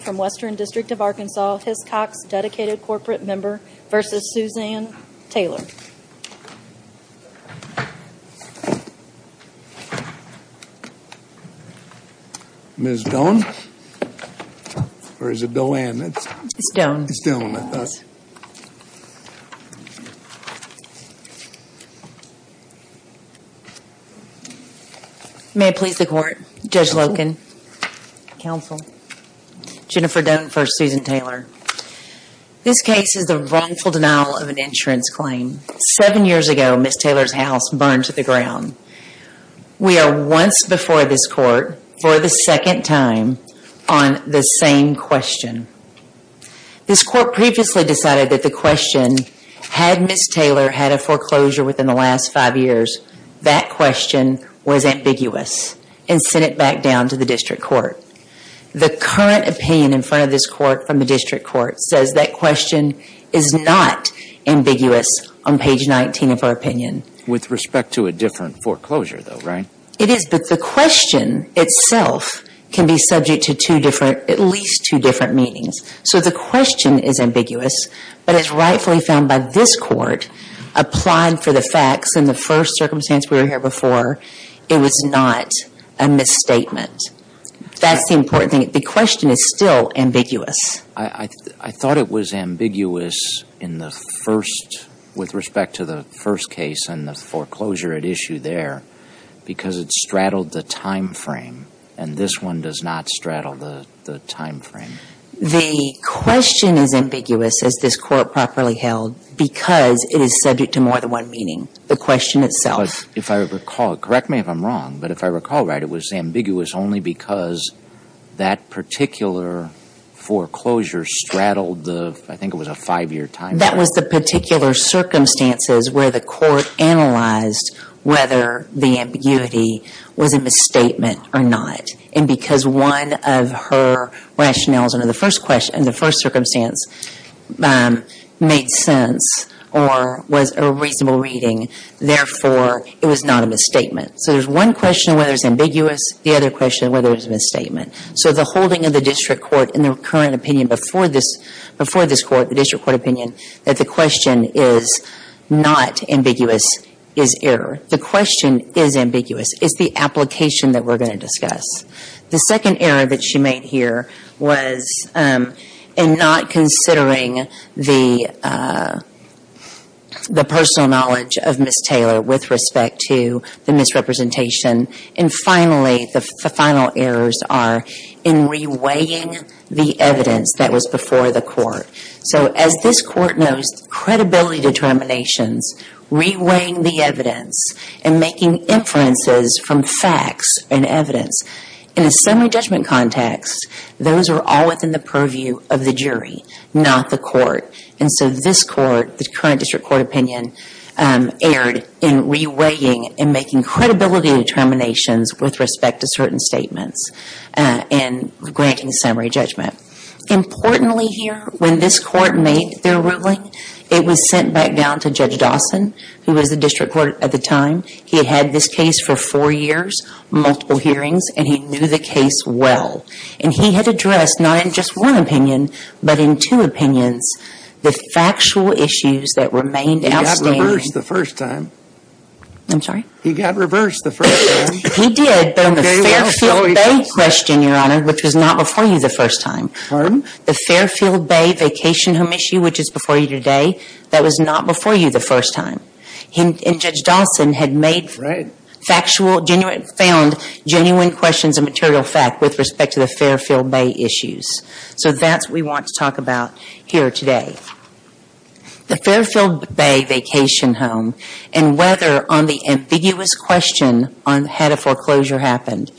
From Western District of Arkansas, which comes by a Or is it bill and it's stone still May please the court judge Loken counsel Jennifer done for Susan Taylor This case is the wrongful denial of an insurance claim seven years ago. Miss Taylor's house burned to the ground We are once before this court for the second time on the same question This court previously decided that the question had miss Taylor had a foreclosure within the last five years That question was ambiguous and sent it back down to the district court The current opinion in front of this court from the district court says that question is not Ambiguous on page 19 of our opinion with respect to a different foreclosure though, right? It is that the question itself can be subject to two different at least two different meanings So the question is ambiguous, but it's rightfully found by this court Applied for the facts in the first circumstance. We were here before it was not a misstatement That's the important thing. The question is still ambiguous. I Thought it was ambiguous in the first with respect to the first case and the foreclosure at issue there Because it's straddled the time frame and this one does not straddle the the time frame The question is ambiguous as this court properly held Because it is subject to more than one meaning the question itself if I recall correct me if I'm wrong but if I recall right it was ambiguous only because that particular Foreclosure straddled the I think it was a five-year time. That was the particular circumstances where the court analyzed whether the ambiguity was a misstatement or not and because one of her Rationales under the first question in the first circumstance Made sense or was a reasonable reading Therefore it was not a misstatement. So there's one question whether it's ambiguous the other question whether it's a misstatement so the holding of the district court in the current opinion before this before this court the district court opinion that the question is Not ambiguous is error. The question is ambiguous. It's the application that we're going to discuss the second error that she made here was and not considering the The personal knowledge of Miss Taylor with respect to the misrepresentation and Finally the final errors are in Reweighing the evidence that was before the court. So as this court knows credibility determinations Reweighing the evidence and making inferences from facts and evidence in a semi judgment context Those are all within the purview of the jury not the court. And so this court the current district court opinion Erred in reweighing and making credibility determinations with respect to certain statements and granting summary judgment Importantly here when this court made their ruling it was sent back down to judge Dawson He was the district court at the time. He had this case for four years Multiple hearings and he knew the case well, and he had addressed not in just one opinion But in two opinions the factual issues that remained the first time I'm sorry, he got reversed the first Question your honor, which was not before you the first time pardon the Fairfield Bay vacation home issue Which is before you today that was not before you the first time him and judge Dawson had made Factual genuine found genuine questions and material fact with respect to the Fairfield Bay issues So that's we want to talk about here today The Fairfield Bay vacation home and whether on the ambiguous question on head of foreclosure happened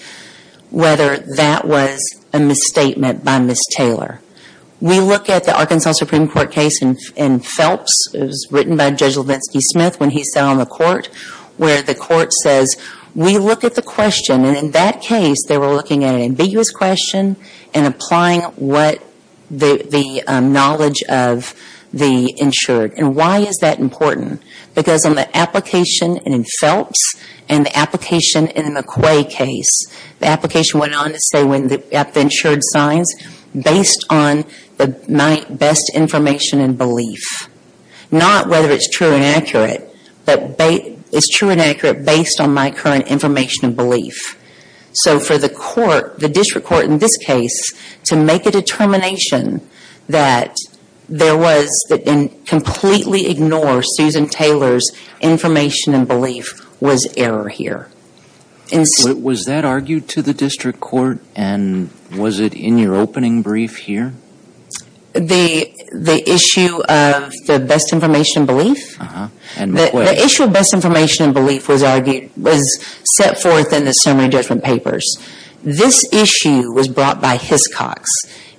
Whether that was a misstatement by Miss Taylor We look at the Arkansas Supreme Court case and in Phelps Written by judge Levinsky Smith when he sat on the court where the court says we look at the question and in that case they were looking at an ambiguous question and applying what the knowledge of the Insured and why is that important because on the application and in Phelps and the application in a McQuay case? The application went on to say when the at the insured signs based on the night best information and belief Not whether it's true and accurate, but they it's true and accurate based on my current information and belief so for the court the district court in this case to make a determination that There was that in completely ignore Susan Taylor's Information and belief was error here And so it was that argued to the district court and was it in your opening brief here? The the issue of the best information belief And the issue of best information and belief was argued was set forth in the summary judgment papers This issue was brought by Hiscox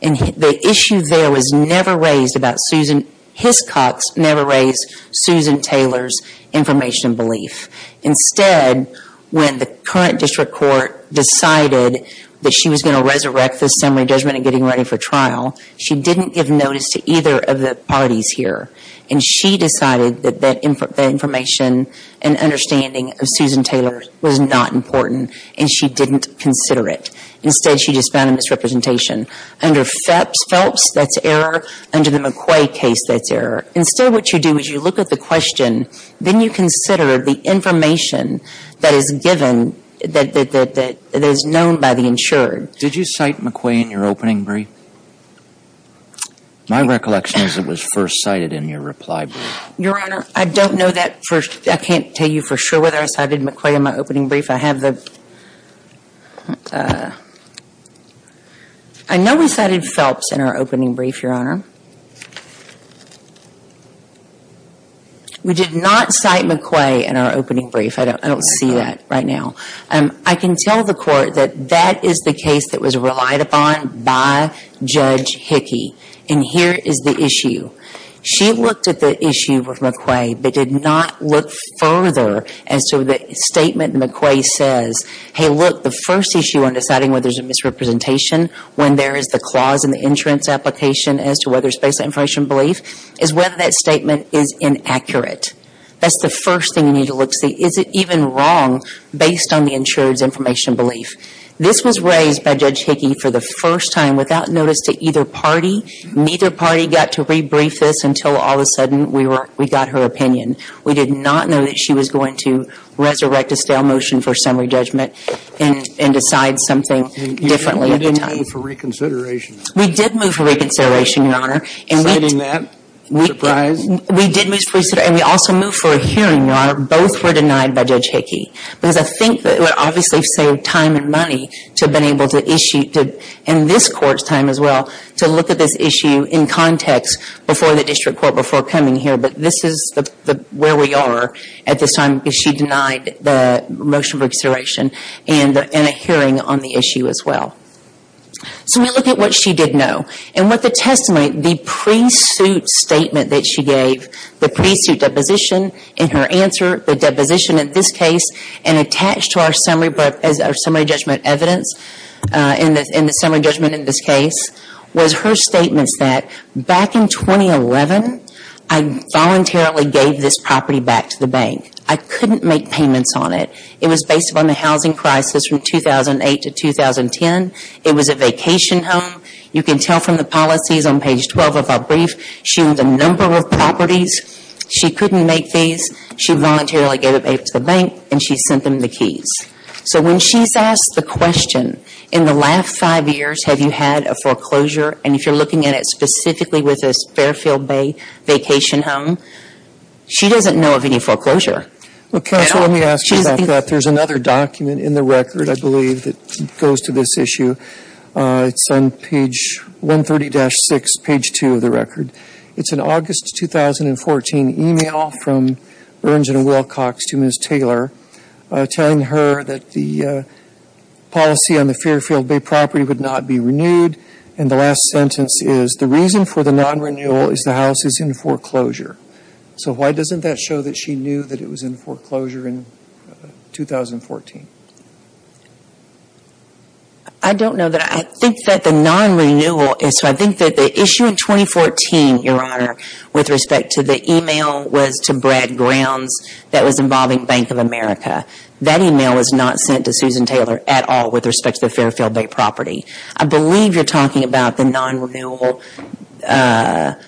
and the issue there was never raised about Susan Hiscox never raised Susan Taylor's information belief Instead when the current district court decided that she was going to resurrect the summary judgment and getting ready for trial she didn't give notice to either of the parties here and she decided that that in for the information and Understanding of Susan Taylor was not important and she didn't consider it instead She just found a misrepresentation under Phelps Phelps. That's error under the McQuay case That's error instead what you do is you look at the question, then you consider the information That is given that that that is known by the insured. Did you cite McQuay in your opening brief? My recollection is it was first cited in your reply. Your honor I don't know that first. I can't tell you for sure whether I cited McQuay in my opening brief. I have the I Know we cited Phelps in our opening brief your honor We did not cite McQuay in our opening brief I don't I don't see that right now and I can tell the court that that is the case that was relied upon by Judge Hickey and here is the issue She looked at the issue of McQuay They did not look further and so the statement McQuay says hey look the first issue on deciding whether there's a misrepresentation When there is the clause in the insurance application as to whether it's based on information belief is whether that statement is inaccurate That's the first thing you need to look see is it even wrong based on the insured's information belief This was raised by Judge Hickey for the first time without notice to either party Neither party got to rebrief this until all of a sudden we were we got her opinion We did not know that she was going to Resurrect a stale motion for summary judgment and and decide something differently We did move for reconsideration your honor and winning that We did lose priesthood and we also moved for a hearing your honor Both were denied by Judge Hickey because I think that would obviously save time and money to have been able to issue Did in this court's time as well to look at this issue in context before the district court before coming here? but this is the where we are at this time because she denied the Motion for restoration and in a hearing on the issue as well So we look at what she did know and what the testimony the pre-suit Statement that she gave the pre-suit deposition in her answer the deposition in this case and attached to our summary book as our summary judgment evidence In the in the summary judgment in this case was her statements that back in 2011. I Voluntarily gave this property back to the bank. I couldn't make payments on it It was based upon the housing crisis from 2008 to 2010 It was a vacation home. You can tell from the policies on page 12 of our brief. She was a number of properties She couldn't make these she voluntarily gave it back to the bank and she sent them the keys So when she's asked the question in the last five years Have you had a foreclosure and if you're looking at it specifically with this Fairfield Bay vacation home She doesn't know of any foreclosure Okay, let me ask you that there's another document in the record I believe that goes to this issue It's on page 130-6 page 2 of the record. It's an August 2014 email from earns and Wilcox to miss Taylor telling her that the Policy on the Fairfield Bay property would not be renewed and the last sentence is the reason for the non-renewal is the house is in foreclosure So, why doesn't that show that she knew that it was in foreclosure in 2014 I Don't know that I think that the non-renewal is so I think that the issue in 2014 your honor with respect to the email was to Brad grounds that was involving Bank of America That email was not sent to Susan Taylor at all with respect to the Fairfield Bay property. I believe you're talking about the non-renewal On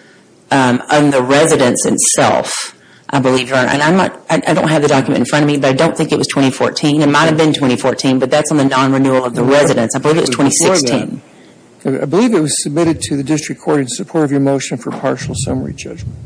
The residence itself, I believe you're and I'm not I don't have the document in front of me But I don't think it was 2014 and might have been 2014, but that's on the non-renewal of the residence. I believe it was 2016 I believe it was submitted to the district court in support of your motion for partial summary judgment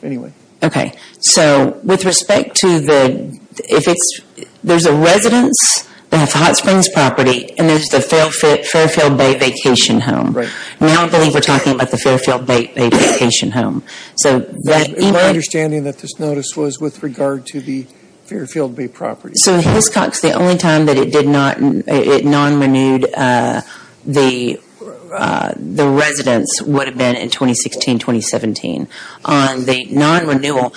Anyway, okay. So with respect to the if it's there's a residence That's hot springs property and there's the Fairfield Bay vacation home right now, I believe we're talking about the Fairfield Bay vacation home, so Understanding that this notice was with regard to the Fairfield Bay property. So his cocks the only time that it did not it non-renewed the The residence would have been in 2016 2017 on the non-renewal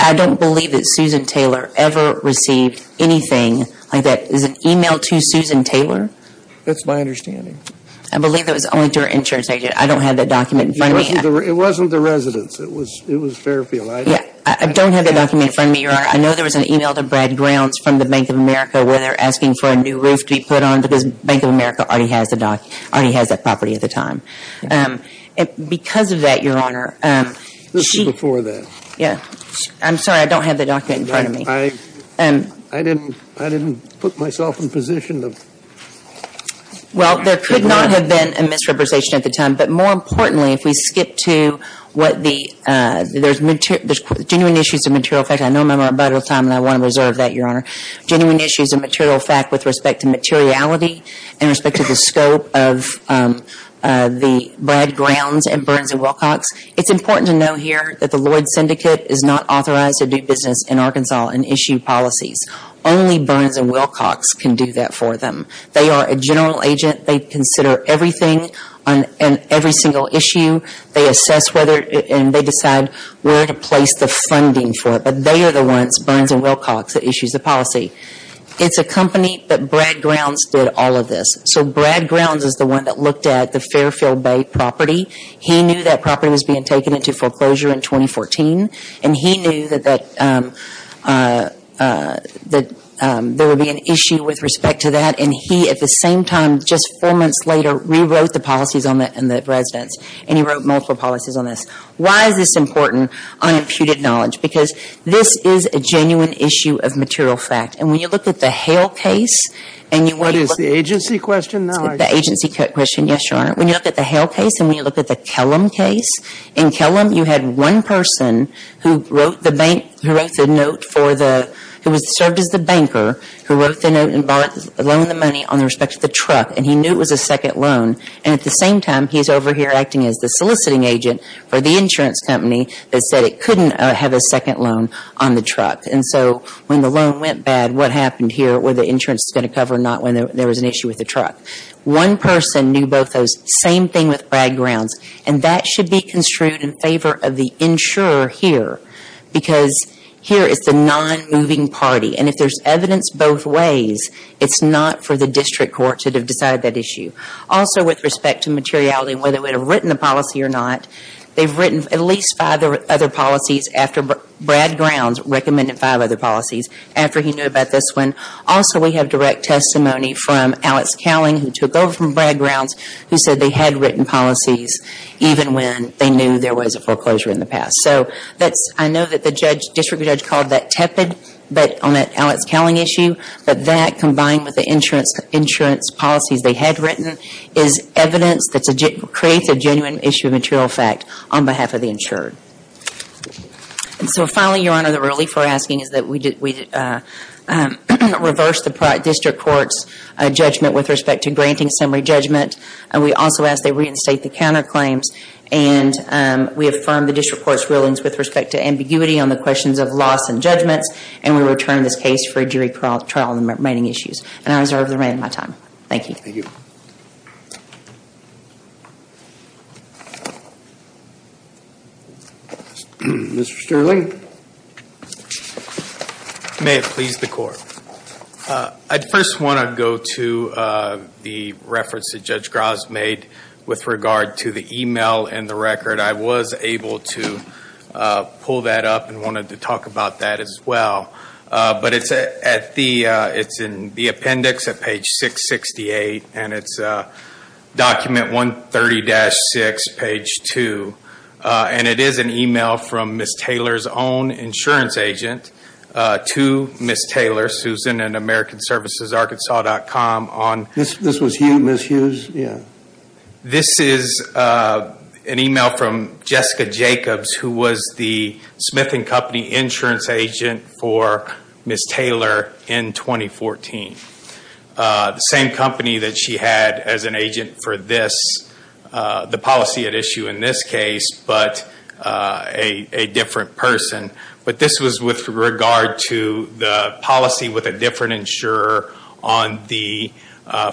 I don't believe that Susan Taylor ever received anything like that is an email to Susan Taylor. That's my understanding I believe it was only to her insurance agent. I don't have that document. It wasn't the residence. It was it was Fairfield Yeah, I don't have a document in front of me I know there was an email to Brad grounds from the Bank of America where they're asking for a new roof to be put on But this Bank of America already has the doc already has that property at the time Because of that your honor This is before that yeah, I'm sorry, I don't have the document in front of me I and I didn't I didn't put myself in position of well, there could not have been a misrepresentation at the time, but more importantly if we skip to what the There's material genuine issues of material fact I know my mother time and I want to reserve that your honor genuine issues of material fact with respect to materiality in respect to the scope of The Brad grounds and Burns and Wilcox It's important to know here that the Lloyd syndicate is not authorized to do business in Arkansas and issue policies Only Burns and Wilcox can do that for them. They are a general agent They consider everything on and every single issue They assess whether and they decide where to place the funding for it But they are the ones Burns and Wilcox that issues the policy It's a company that Brad grounds did all of this so Brad grounds is the one that looked at the Fairfield Bay property He knew that property was being taken into foreclosure in 2014, and he knew that that That there would be an issue with respect to that and he at the same time just four months later Rewrote the policies on that and that residence and he wrote multiple policies on this Why is this important on imputed knowledge because this is a genuine issue of material fact and when you look at the Hale case And you what is the agency question now the agency question? Yes, your honor When you look at the Hale case and when you look at the Kellam case in Kellam You had one person who wrote the bank who wrote the note for the who was served as the banker Who wrote the note and borrow the money on the respect to the truck and he knew it was a second loan and at the Same time he's over here acting as the soliciting agent for the insurance company That said it couldn't have a second loan on the truck And so when the loan went bad what happened here where the insurance is going to cover not when there was an issue with the truck one person knew both those same thing with Brad grounds and that should be construed in favor of the insurer here because Here is the non moving party, and if there's evidence both ways It's not for the district court to have decided that issue also with respect to materiality whether we'd have written the policy or not They've written at least five other policies after Brad grounds recommended five other policies after he knew about this one Also, we have direct testimony from Alex Cowling who took over from Brad grounds who said they had written policies Even when they knew there was a foreclosure in the past So that's I know that the judge district judge called that tepid but on that Alex Cowling issue But that combined with the insurance insurance policies They had written is evidence that's a jit creates a genuine issue of material fact on behalf of the insured and so finally your honor the relief we're asking is that we did we Reverse the product district courts judgment with respect to granting summary judgment and we also ask they reinstate the counterclaims and We affirm the district courts rulings with respect to ambiguity on the questions of loss and judgments And we return this case for a jury trial trial in the remaining issues and I reserve the remaining my time. Thank you Mr. Sterling May it please the court I'd first want to go to the reference that judge Gras made with regard to the email and the record I was able to Pull that up and wanted to talk about that as well but it's at the it's in the appendix at page 668 and it's a 130-6 page 2 and it is an email from Miss Taylor's own insurance agent To miss Taylor Susan and American services Arkansas comm on this. This was huge miss Hughes. Yeah this is An email from Jessica Jacobs who was the Smith and company insurance agent for Miss Taylor in 2014 The same company that she had as an agent for this the policy at issue in this case, but a different person but this was with regard to the policy with a different insurer on the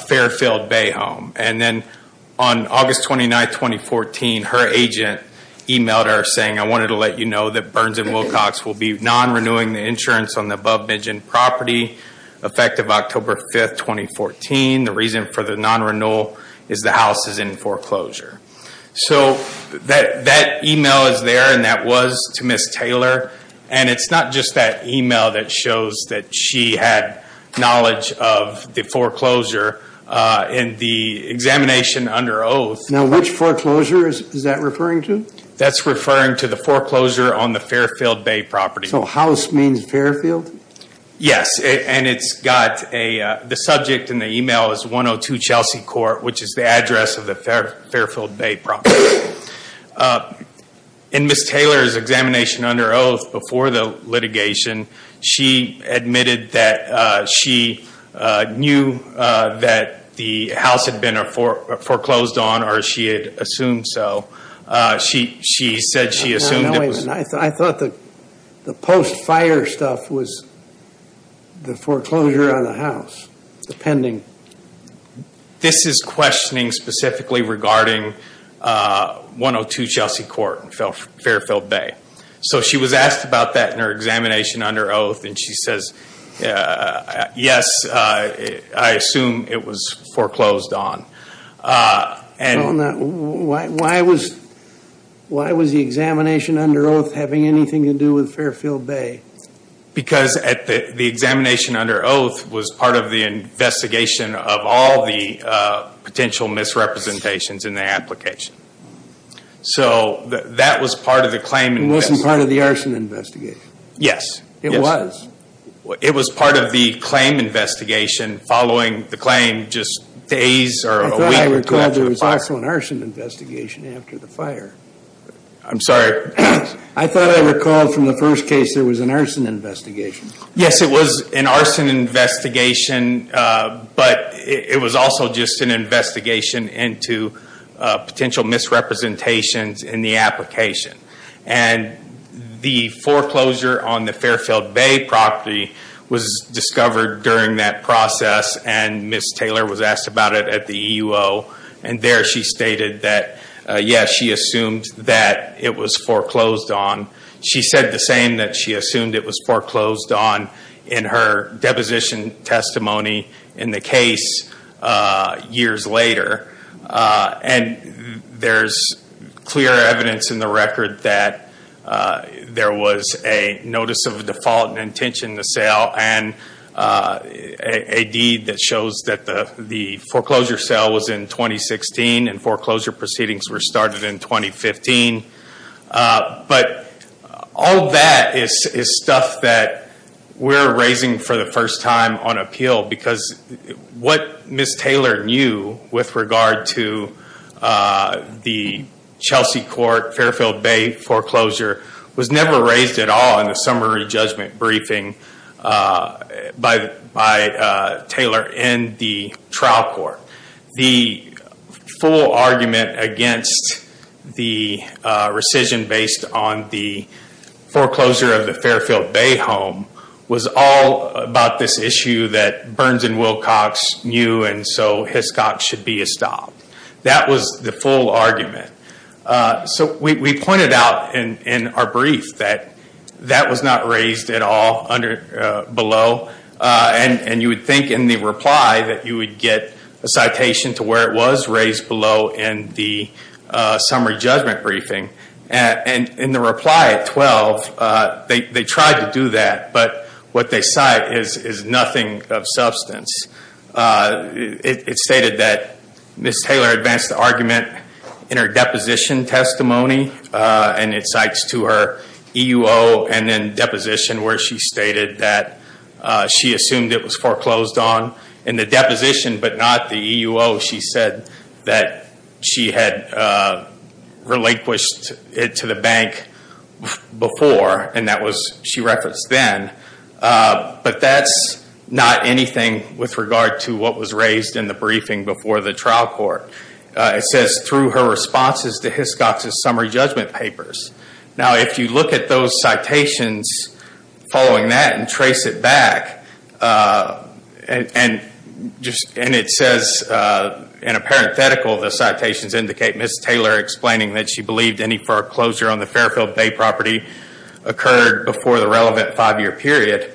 Fairfield Bay home and then on August 29th 2014 her agent Emailed her saying I wanted to let you know that Burns and Wilcox will be non-renewing the insurance on the above-mentioned property effective October 5th 2014 the reason for the non-renewal is the house is in foreclosure So that that email is there and that was to miss Taylor and it's not just that email that shows that She had knowledge of the foreclosure in the Examination under oath now which foreclosure is that referring to that's referring to the foreclosure on the Fairfield Bay property So house means Fairfield Yes, and it's got a the subject in the email is 102 Chelsea Court Which is the address of the Fair Fairfield Bay property? and Miss Taylor's examination under oath before the litigation She admitted that she Knew that the house had been a foreclosed on or she had assumed so She she said she assumed I thought that the post fire stuff was the foreclosure on the house depending This is questioning specifically regarding 102 Chelsea Court and fell Fairfield Bay, so she was asked about that in her examination under oath, and she says Yes, I assume it was foreclosed on and why was Why was the examination under oath having anything to do with Fairfield Bay? because at the examination under oath was part of the investigation of all the Potential misrepresentations in the application So that was part of the claim and wasn't part of the arson investigation. Yes, it was It was part of the claim investigation Following the claim just days or a week record. There was also an arson investigation after the fire I'm sorry. I thought I recalled from the first case. There was an arson investigation. Yes, it was an arson investigation But it was also just an investigation into potential misrepresentations in the application and the foreclosure on the Fairfield Bay property was Discovered during that process and miss Taylor was asked about it at the EU. Oh and there she stated that Yes, she assumed that it was foreclosed on she said the same that she assumed It was foreclosed on in her deposition testimony in the case years later and there's clear evidence in the record that there was a notice of default and intention to sale and a deed that shows that the the foreclosure sale was in 2016 and foreclosure proceedings were started in 2015 But all that is is stuff that we're raising for the first time on appeal because What miss Taylor knew with regard to? The Chelsea court Fairfield Bay foreclosure was never raised at all in the summary judgment briefing by Taylor in the trial court the full argument against the rescission based on the foreclosure of the Fairfield Bay home Was all about this issue that Burns and Wilcox knew and so Hiscox should be a stop That was the full argument So we pointed out in our brief that that was not raised at all under below and and you would think in the reply that you would get a citation to where it was raised below in the Summary judgment briefing and in the reply at 12 They tried to do that, but what they cite is is nothing of substance It stated that miss Taylor advanced the argument in her deposition testimony And it cites to her EEO and then deposition where she stated that She assumed it was foreclosed on in the deposition, but not the EEO She said that she had Relinquished it to the bank Before and that was she referenced then But that's not anything with regard to what was raised in the briefing before the trial court It says through her responses to Hiscox's summary judgment papers now if you look at those citations Following that and trace it back and Just and it says In a parenthetical the citations indicate miss Taylor explaining that she believed any foreclosure on the Fairfield Bay property occurred before the relevant five-year period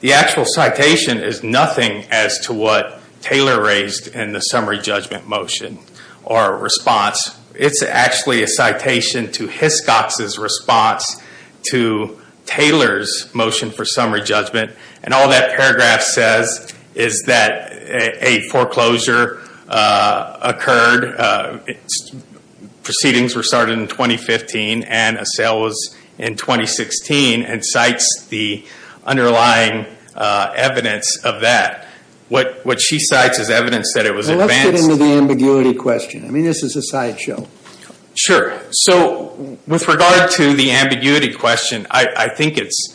The actual citation is nothing as to what Taylor raised in the summary judgment motion or response It's actually a citation to Hiscox's response to Taylor's motion for summary judgment and all that paragraph says is that a foreclosure occurred Proceedings were started in 2015 and a sale was in 2016 and cites the underlying Evidence of that what what she cites is evidence that it was advanced into the ambiguity question. I mean, this is a sideshow Sure, so with regard to the ambiguity question, I think it's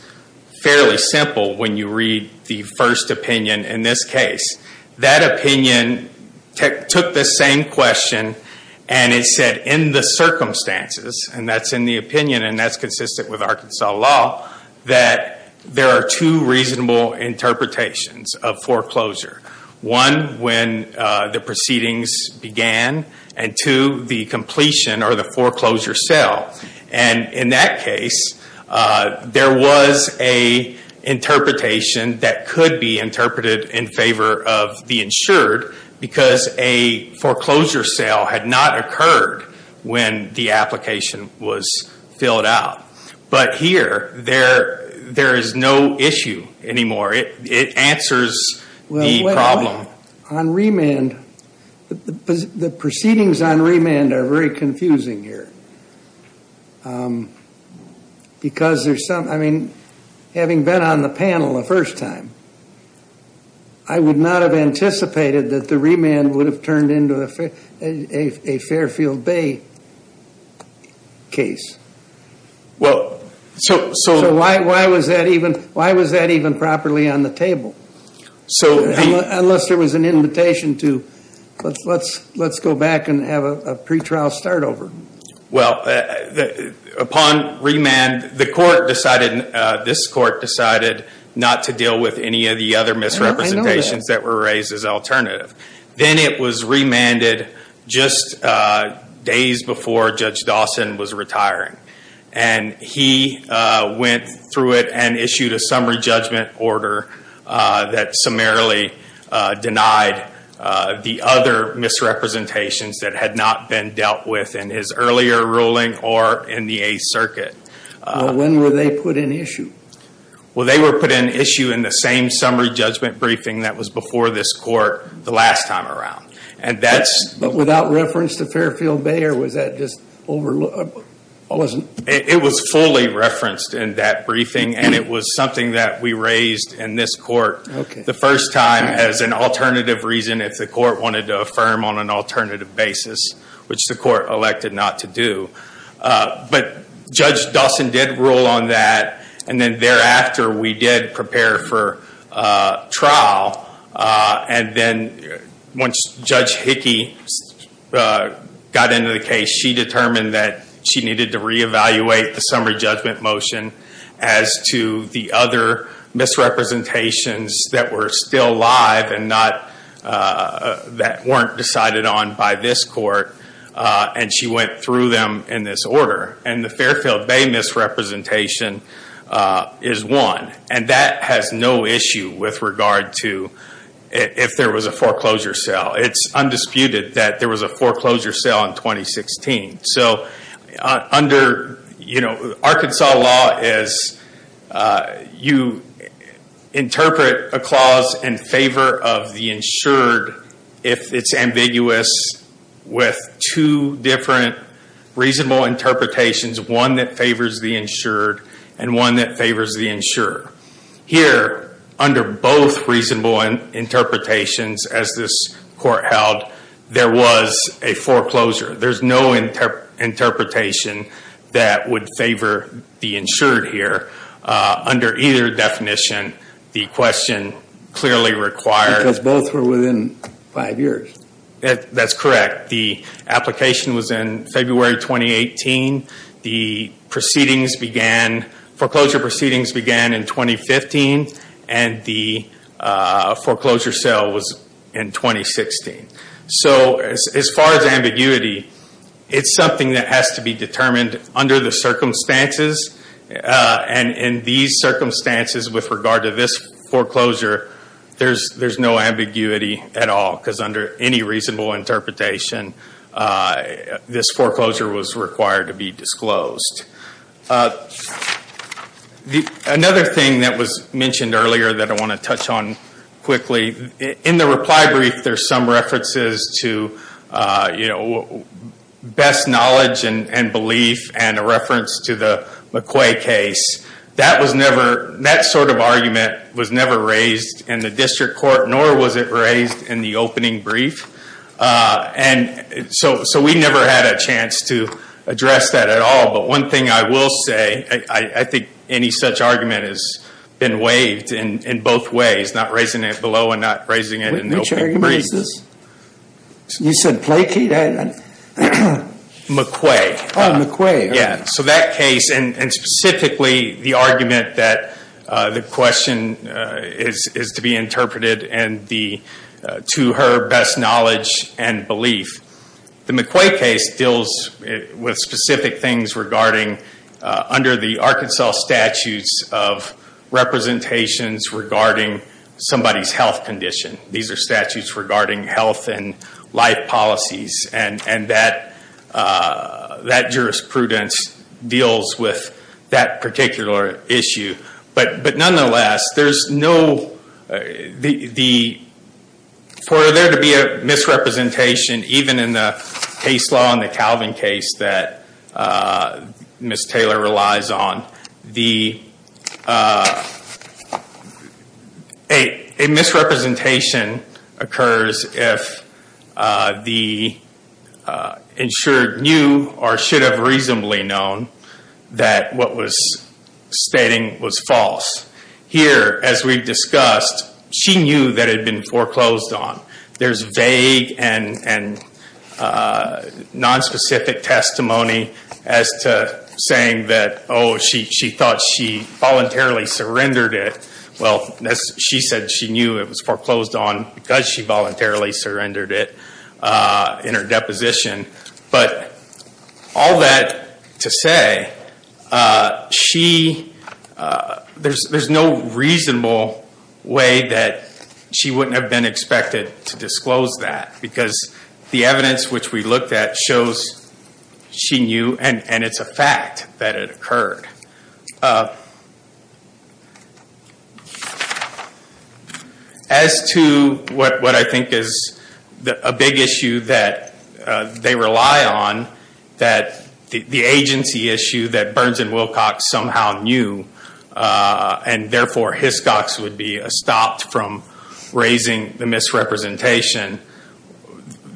Fairly simple when you read the first opinion in this case that opinion took the same question and it said in the circumstances and that's in the opinion and that's consistent with Arkansas law that There are two reasonable interpretations of foreclosure One when the proceedings began and to the completion or the foreclosure sale and in that case there was a interpretation that could be interpreted in favor of the insured because a Foreclosure sale had not occurred when the application was filled out But here there there is no issue anymore It answers On remand the proceedings on remand are very confusing here Because there's something I mean having been on the panel the first time I Would not have anticipated that the remand would have turned into a Fairfield Bay Case Well, so so why why was that even why was that even properly on the table? So unless there was an invitation to let's let's let's go back and have a pre-trial start over. Well Upon remand the court decided this court decided not to deal with any of the other misrepresentations that were raised as alternative then it was remanded just Days before Judge Dawson was retiring and He went through it and issued a summary judgment order that summarily denied the other Misrepresentations that had not been dealt with in his earlier ruling or in the 8th Circuit When were they put in issue? Well, they were put in issue in the same summary judgment briefing That was before this court the last time around and that's but without reference to Fairfield Bay or was that just over? Wasn't it was fully referenced in that briefing and it was something that we raised in this court Okay The first time as an alternative reason if the court wanted to affirm on an alternative basis, which the court elected not to do But Judge Dawson did rule on that and then thereafter we did prepare for Trial and then once Judge Hickey Got into the case. She determined that she needed to reevaluate the summary judgment motion as to the other Misrepresentations that were still live and not That weren't decided on by this court and she went through them in this order and the Fairfield Bay misrepresentation Is one and that has no issue with regard to If there was a foreclosure sale, it's undisputed that there was a foreclosure sale in 2016. So under you know, Arkansas law is you Interpret a clause in favor of the insured if it's ambiguous with two different Reasonable interpretations one that favors the insured and one that favors the insurer here under both reasonable and Interpretations as this court held there was a foreclosure. There's no Interpretation that would favor the insured here Under either definition the question clearly required as both were within five years That's correct the application was in February 2018 the Proceedings began foreclosure proceedings began in 2015 and the foreclosure sale was in 2016 so as far as ambiguity It's something that has to be determined under the circumstances And in these circumstances with regard to this foreclosure There's there's no ambiguity at all because under any reasonable interpretation This foreclosure was required to be disclosed The another thing that was mentioned earlier that I want to touch on quickly in the reply brief there's some references to you know Best knowledge and belief and a reference to the McQuay case That was never that sort of argument was never raised in the district court nor was it raised in the opening brief And so so we never had a chance to address that at all But one thing I will say I think any such argument has Been waived in in both ways not raising it below and not raising it in the opening brief You said Plaky? McQuay Yeah, so that case and specifically the argument that the question is is to be interpreted and the To her best knowledge and belief the McQuay case deals with specific things regarding under the Arkansas statutes of Representations regarding somebody's health condition. These are statutes regarding health and life policies and and that That jurisprudence deals with that particular issue, but but nonetheless there's no the the For there to be a misrepresentation even in the case law in the Calvin case that Miss Taylor relies on the A misrepresentation occurs if The Insured knew or should have reasonably known that what was Stating was false here as we've discussed she knew that had been foreclosed on there's vague and and Nonspecific testimony as to Saying that oh, she thought she voluntarily surrendered it She said she knew it was foreclosed on because she voluntarily surrendered it in her deposition, but all that to say She There's there's no reasonable Way that she wouldn't have been expected to disclose that because the evidence which we looked at shows She knew and and it's a fact that it occurred As to what what I think is the a big issue that They rely on that The agency issue that Burns and Wilcox somehow knew And therefore Hiscox would be stopped from raising the misrepresentation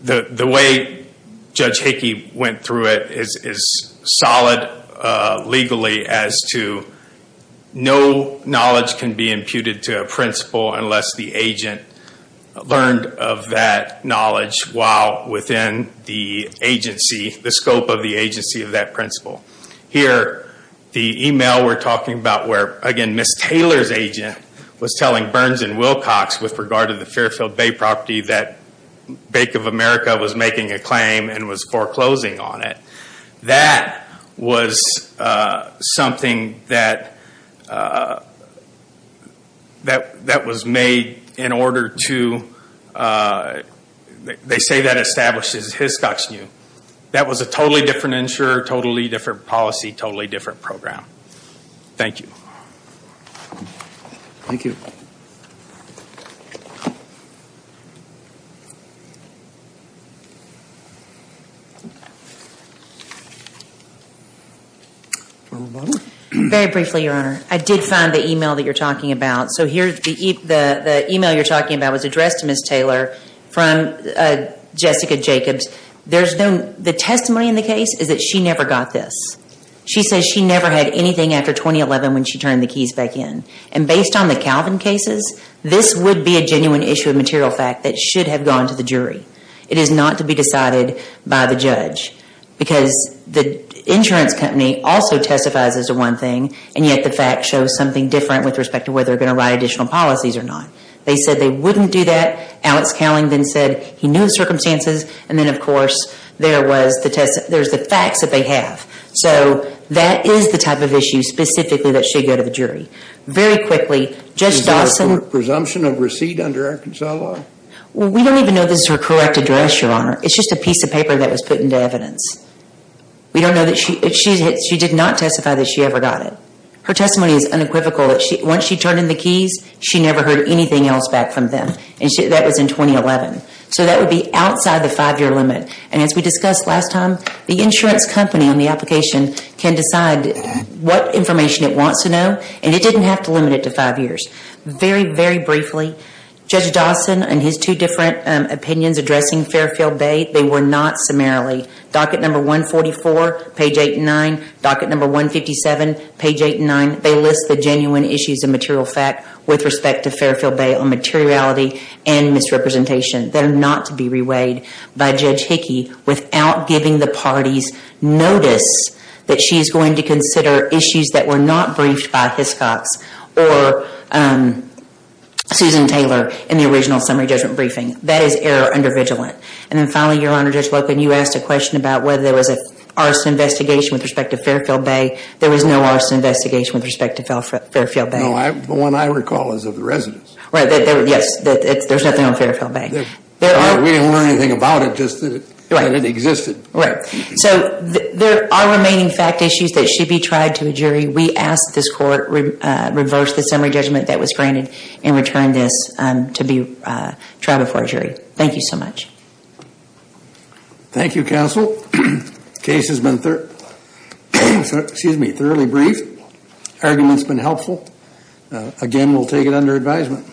The the way Judge Hickey went through it is is solid legally as to No knowledge can be imputed to a principal unless the agent learned of that knowledge while within the Agency the scope of the agency of that principal here the email we're talking about where again Miss Taylor's agent was telling Burns and Wilcox with regard to the Fairfield Bay property that Bank of America was making a claim and was foreclosing on it. That was Something that That that was made in order to They say that establishes Hiscox knew that was a totally different insurer totally different policy totally different program Thank you Thank you Very Briefly your honor. I did find the email that you're talking about. So here's the email you're talking about was addressed to miss Taylor from Jessica Jacobs, there's no the testimony in the case is that she never got this She says she never had anything after 2011 when she turned the keys back in and based on the Calvin cases This would be a genuine issue of material fact that should have gone to the jury It is not to be decided by the judge Because the insurance company also testifies as a one thing and yet the fact shows something different with respect to whether they're going to write additional Policies or not. They said they wouldn't do that Alex Cowling then said he knew the circumstances and then of course there was the test There's the facts that they have so that is the type of issue specifically that should go to the jury Very quickly just awesome presumption of receipt under Arkansas law. We don't even know this is her correct address your honor It's just a piece of paper that was put into evidence We don't know that she did not testify that she ever got it Her testimony is unequivocal that she once she turned in the keys She never heard anything else back from them and she that was in 2011 So that would be outside the five-year limit and as we discussed last time the insurance company on the application can decide What information it wants to know and it didn't have to limit it to five years very very briefly Judge Dawson and his two different opinions addressing Fairfield Bay They were not summarily docket number 144 page 8 and 9 docket number 157 page 8 and 9 They list the genuine issues of material fact with respect to Fairfield Bay on materiality and misrepresentation They're not to be reweighed by judge Hickey without giving the parties notice that she's going to consider issues that were not briefed by his cops or Susan Taylor in the original summary judgment briefing that is error under vigilant and then finally your honor just welcome you asked a question about whether there was a Arson investigation with respect to Fairfield Bay. There was no arson investigation with respect to fell for Fairfield Bay Oh, I'm the one I recall is of the residents, right? Yes It's there's nothing on Fairfield Bay there are we don't learn anything about it just that it existed, right? So there are remaining fact issues that should be tried to a jury. We asked this court Reverse the summary judgment that was granted and returned this to be tried before a jury. Thank you so much Thank You counsel case has been Excuse me, thoroughly brief Arguments been helpful Again, we'll take it under advisement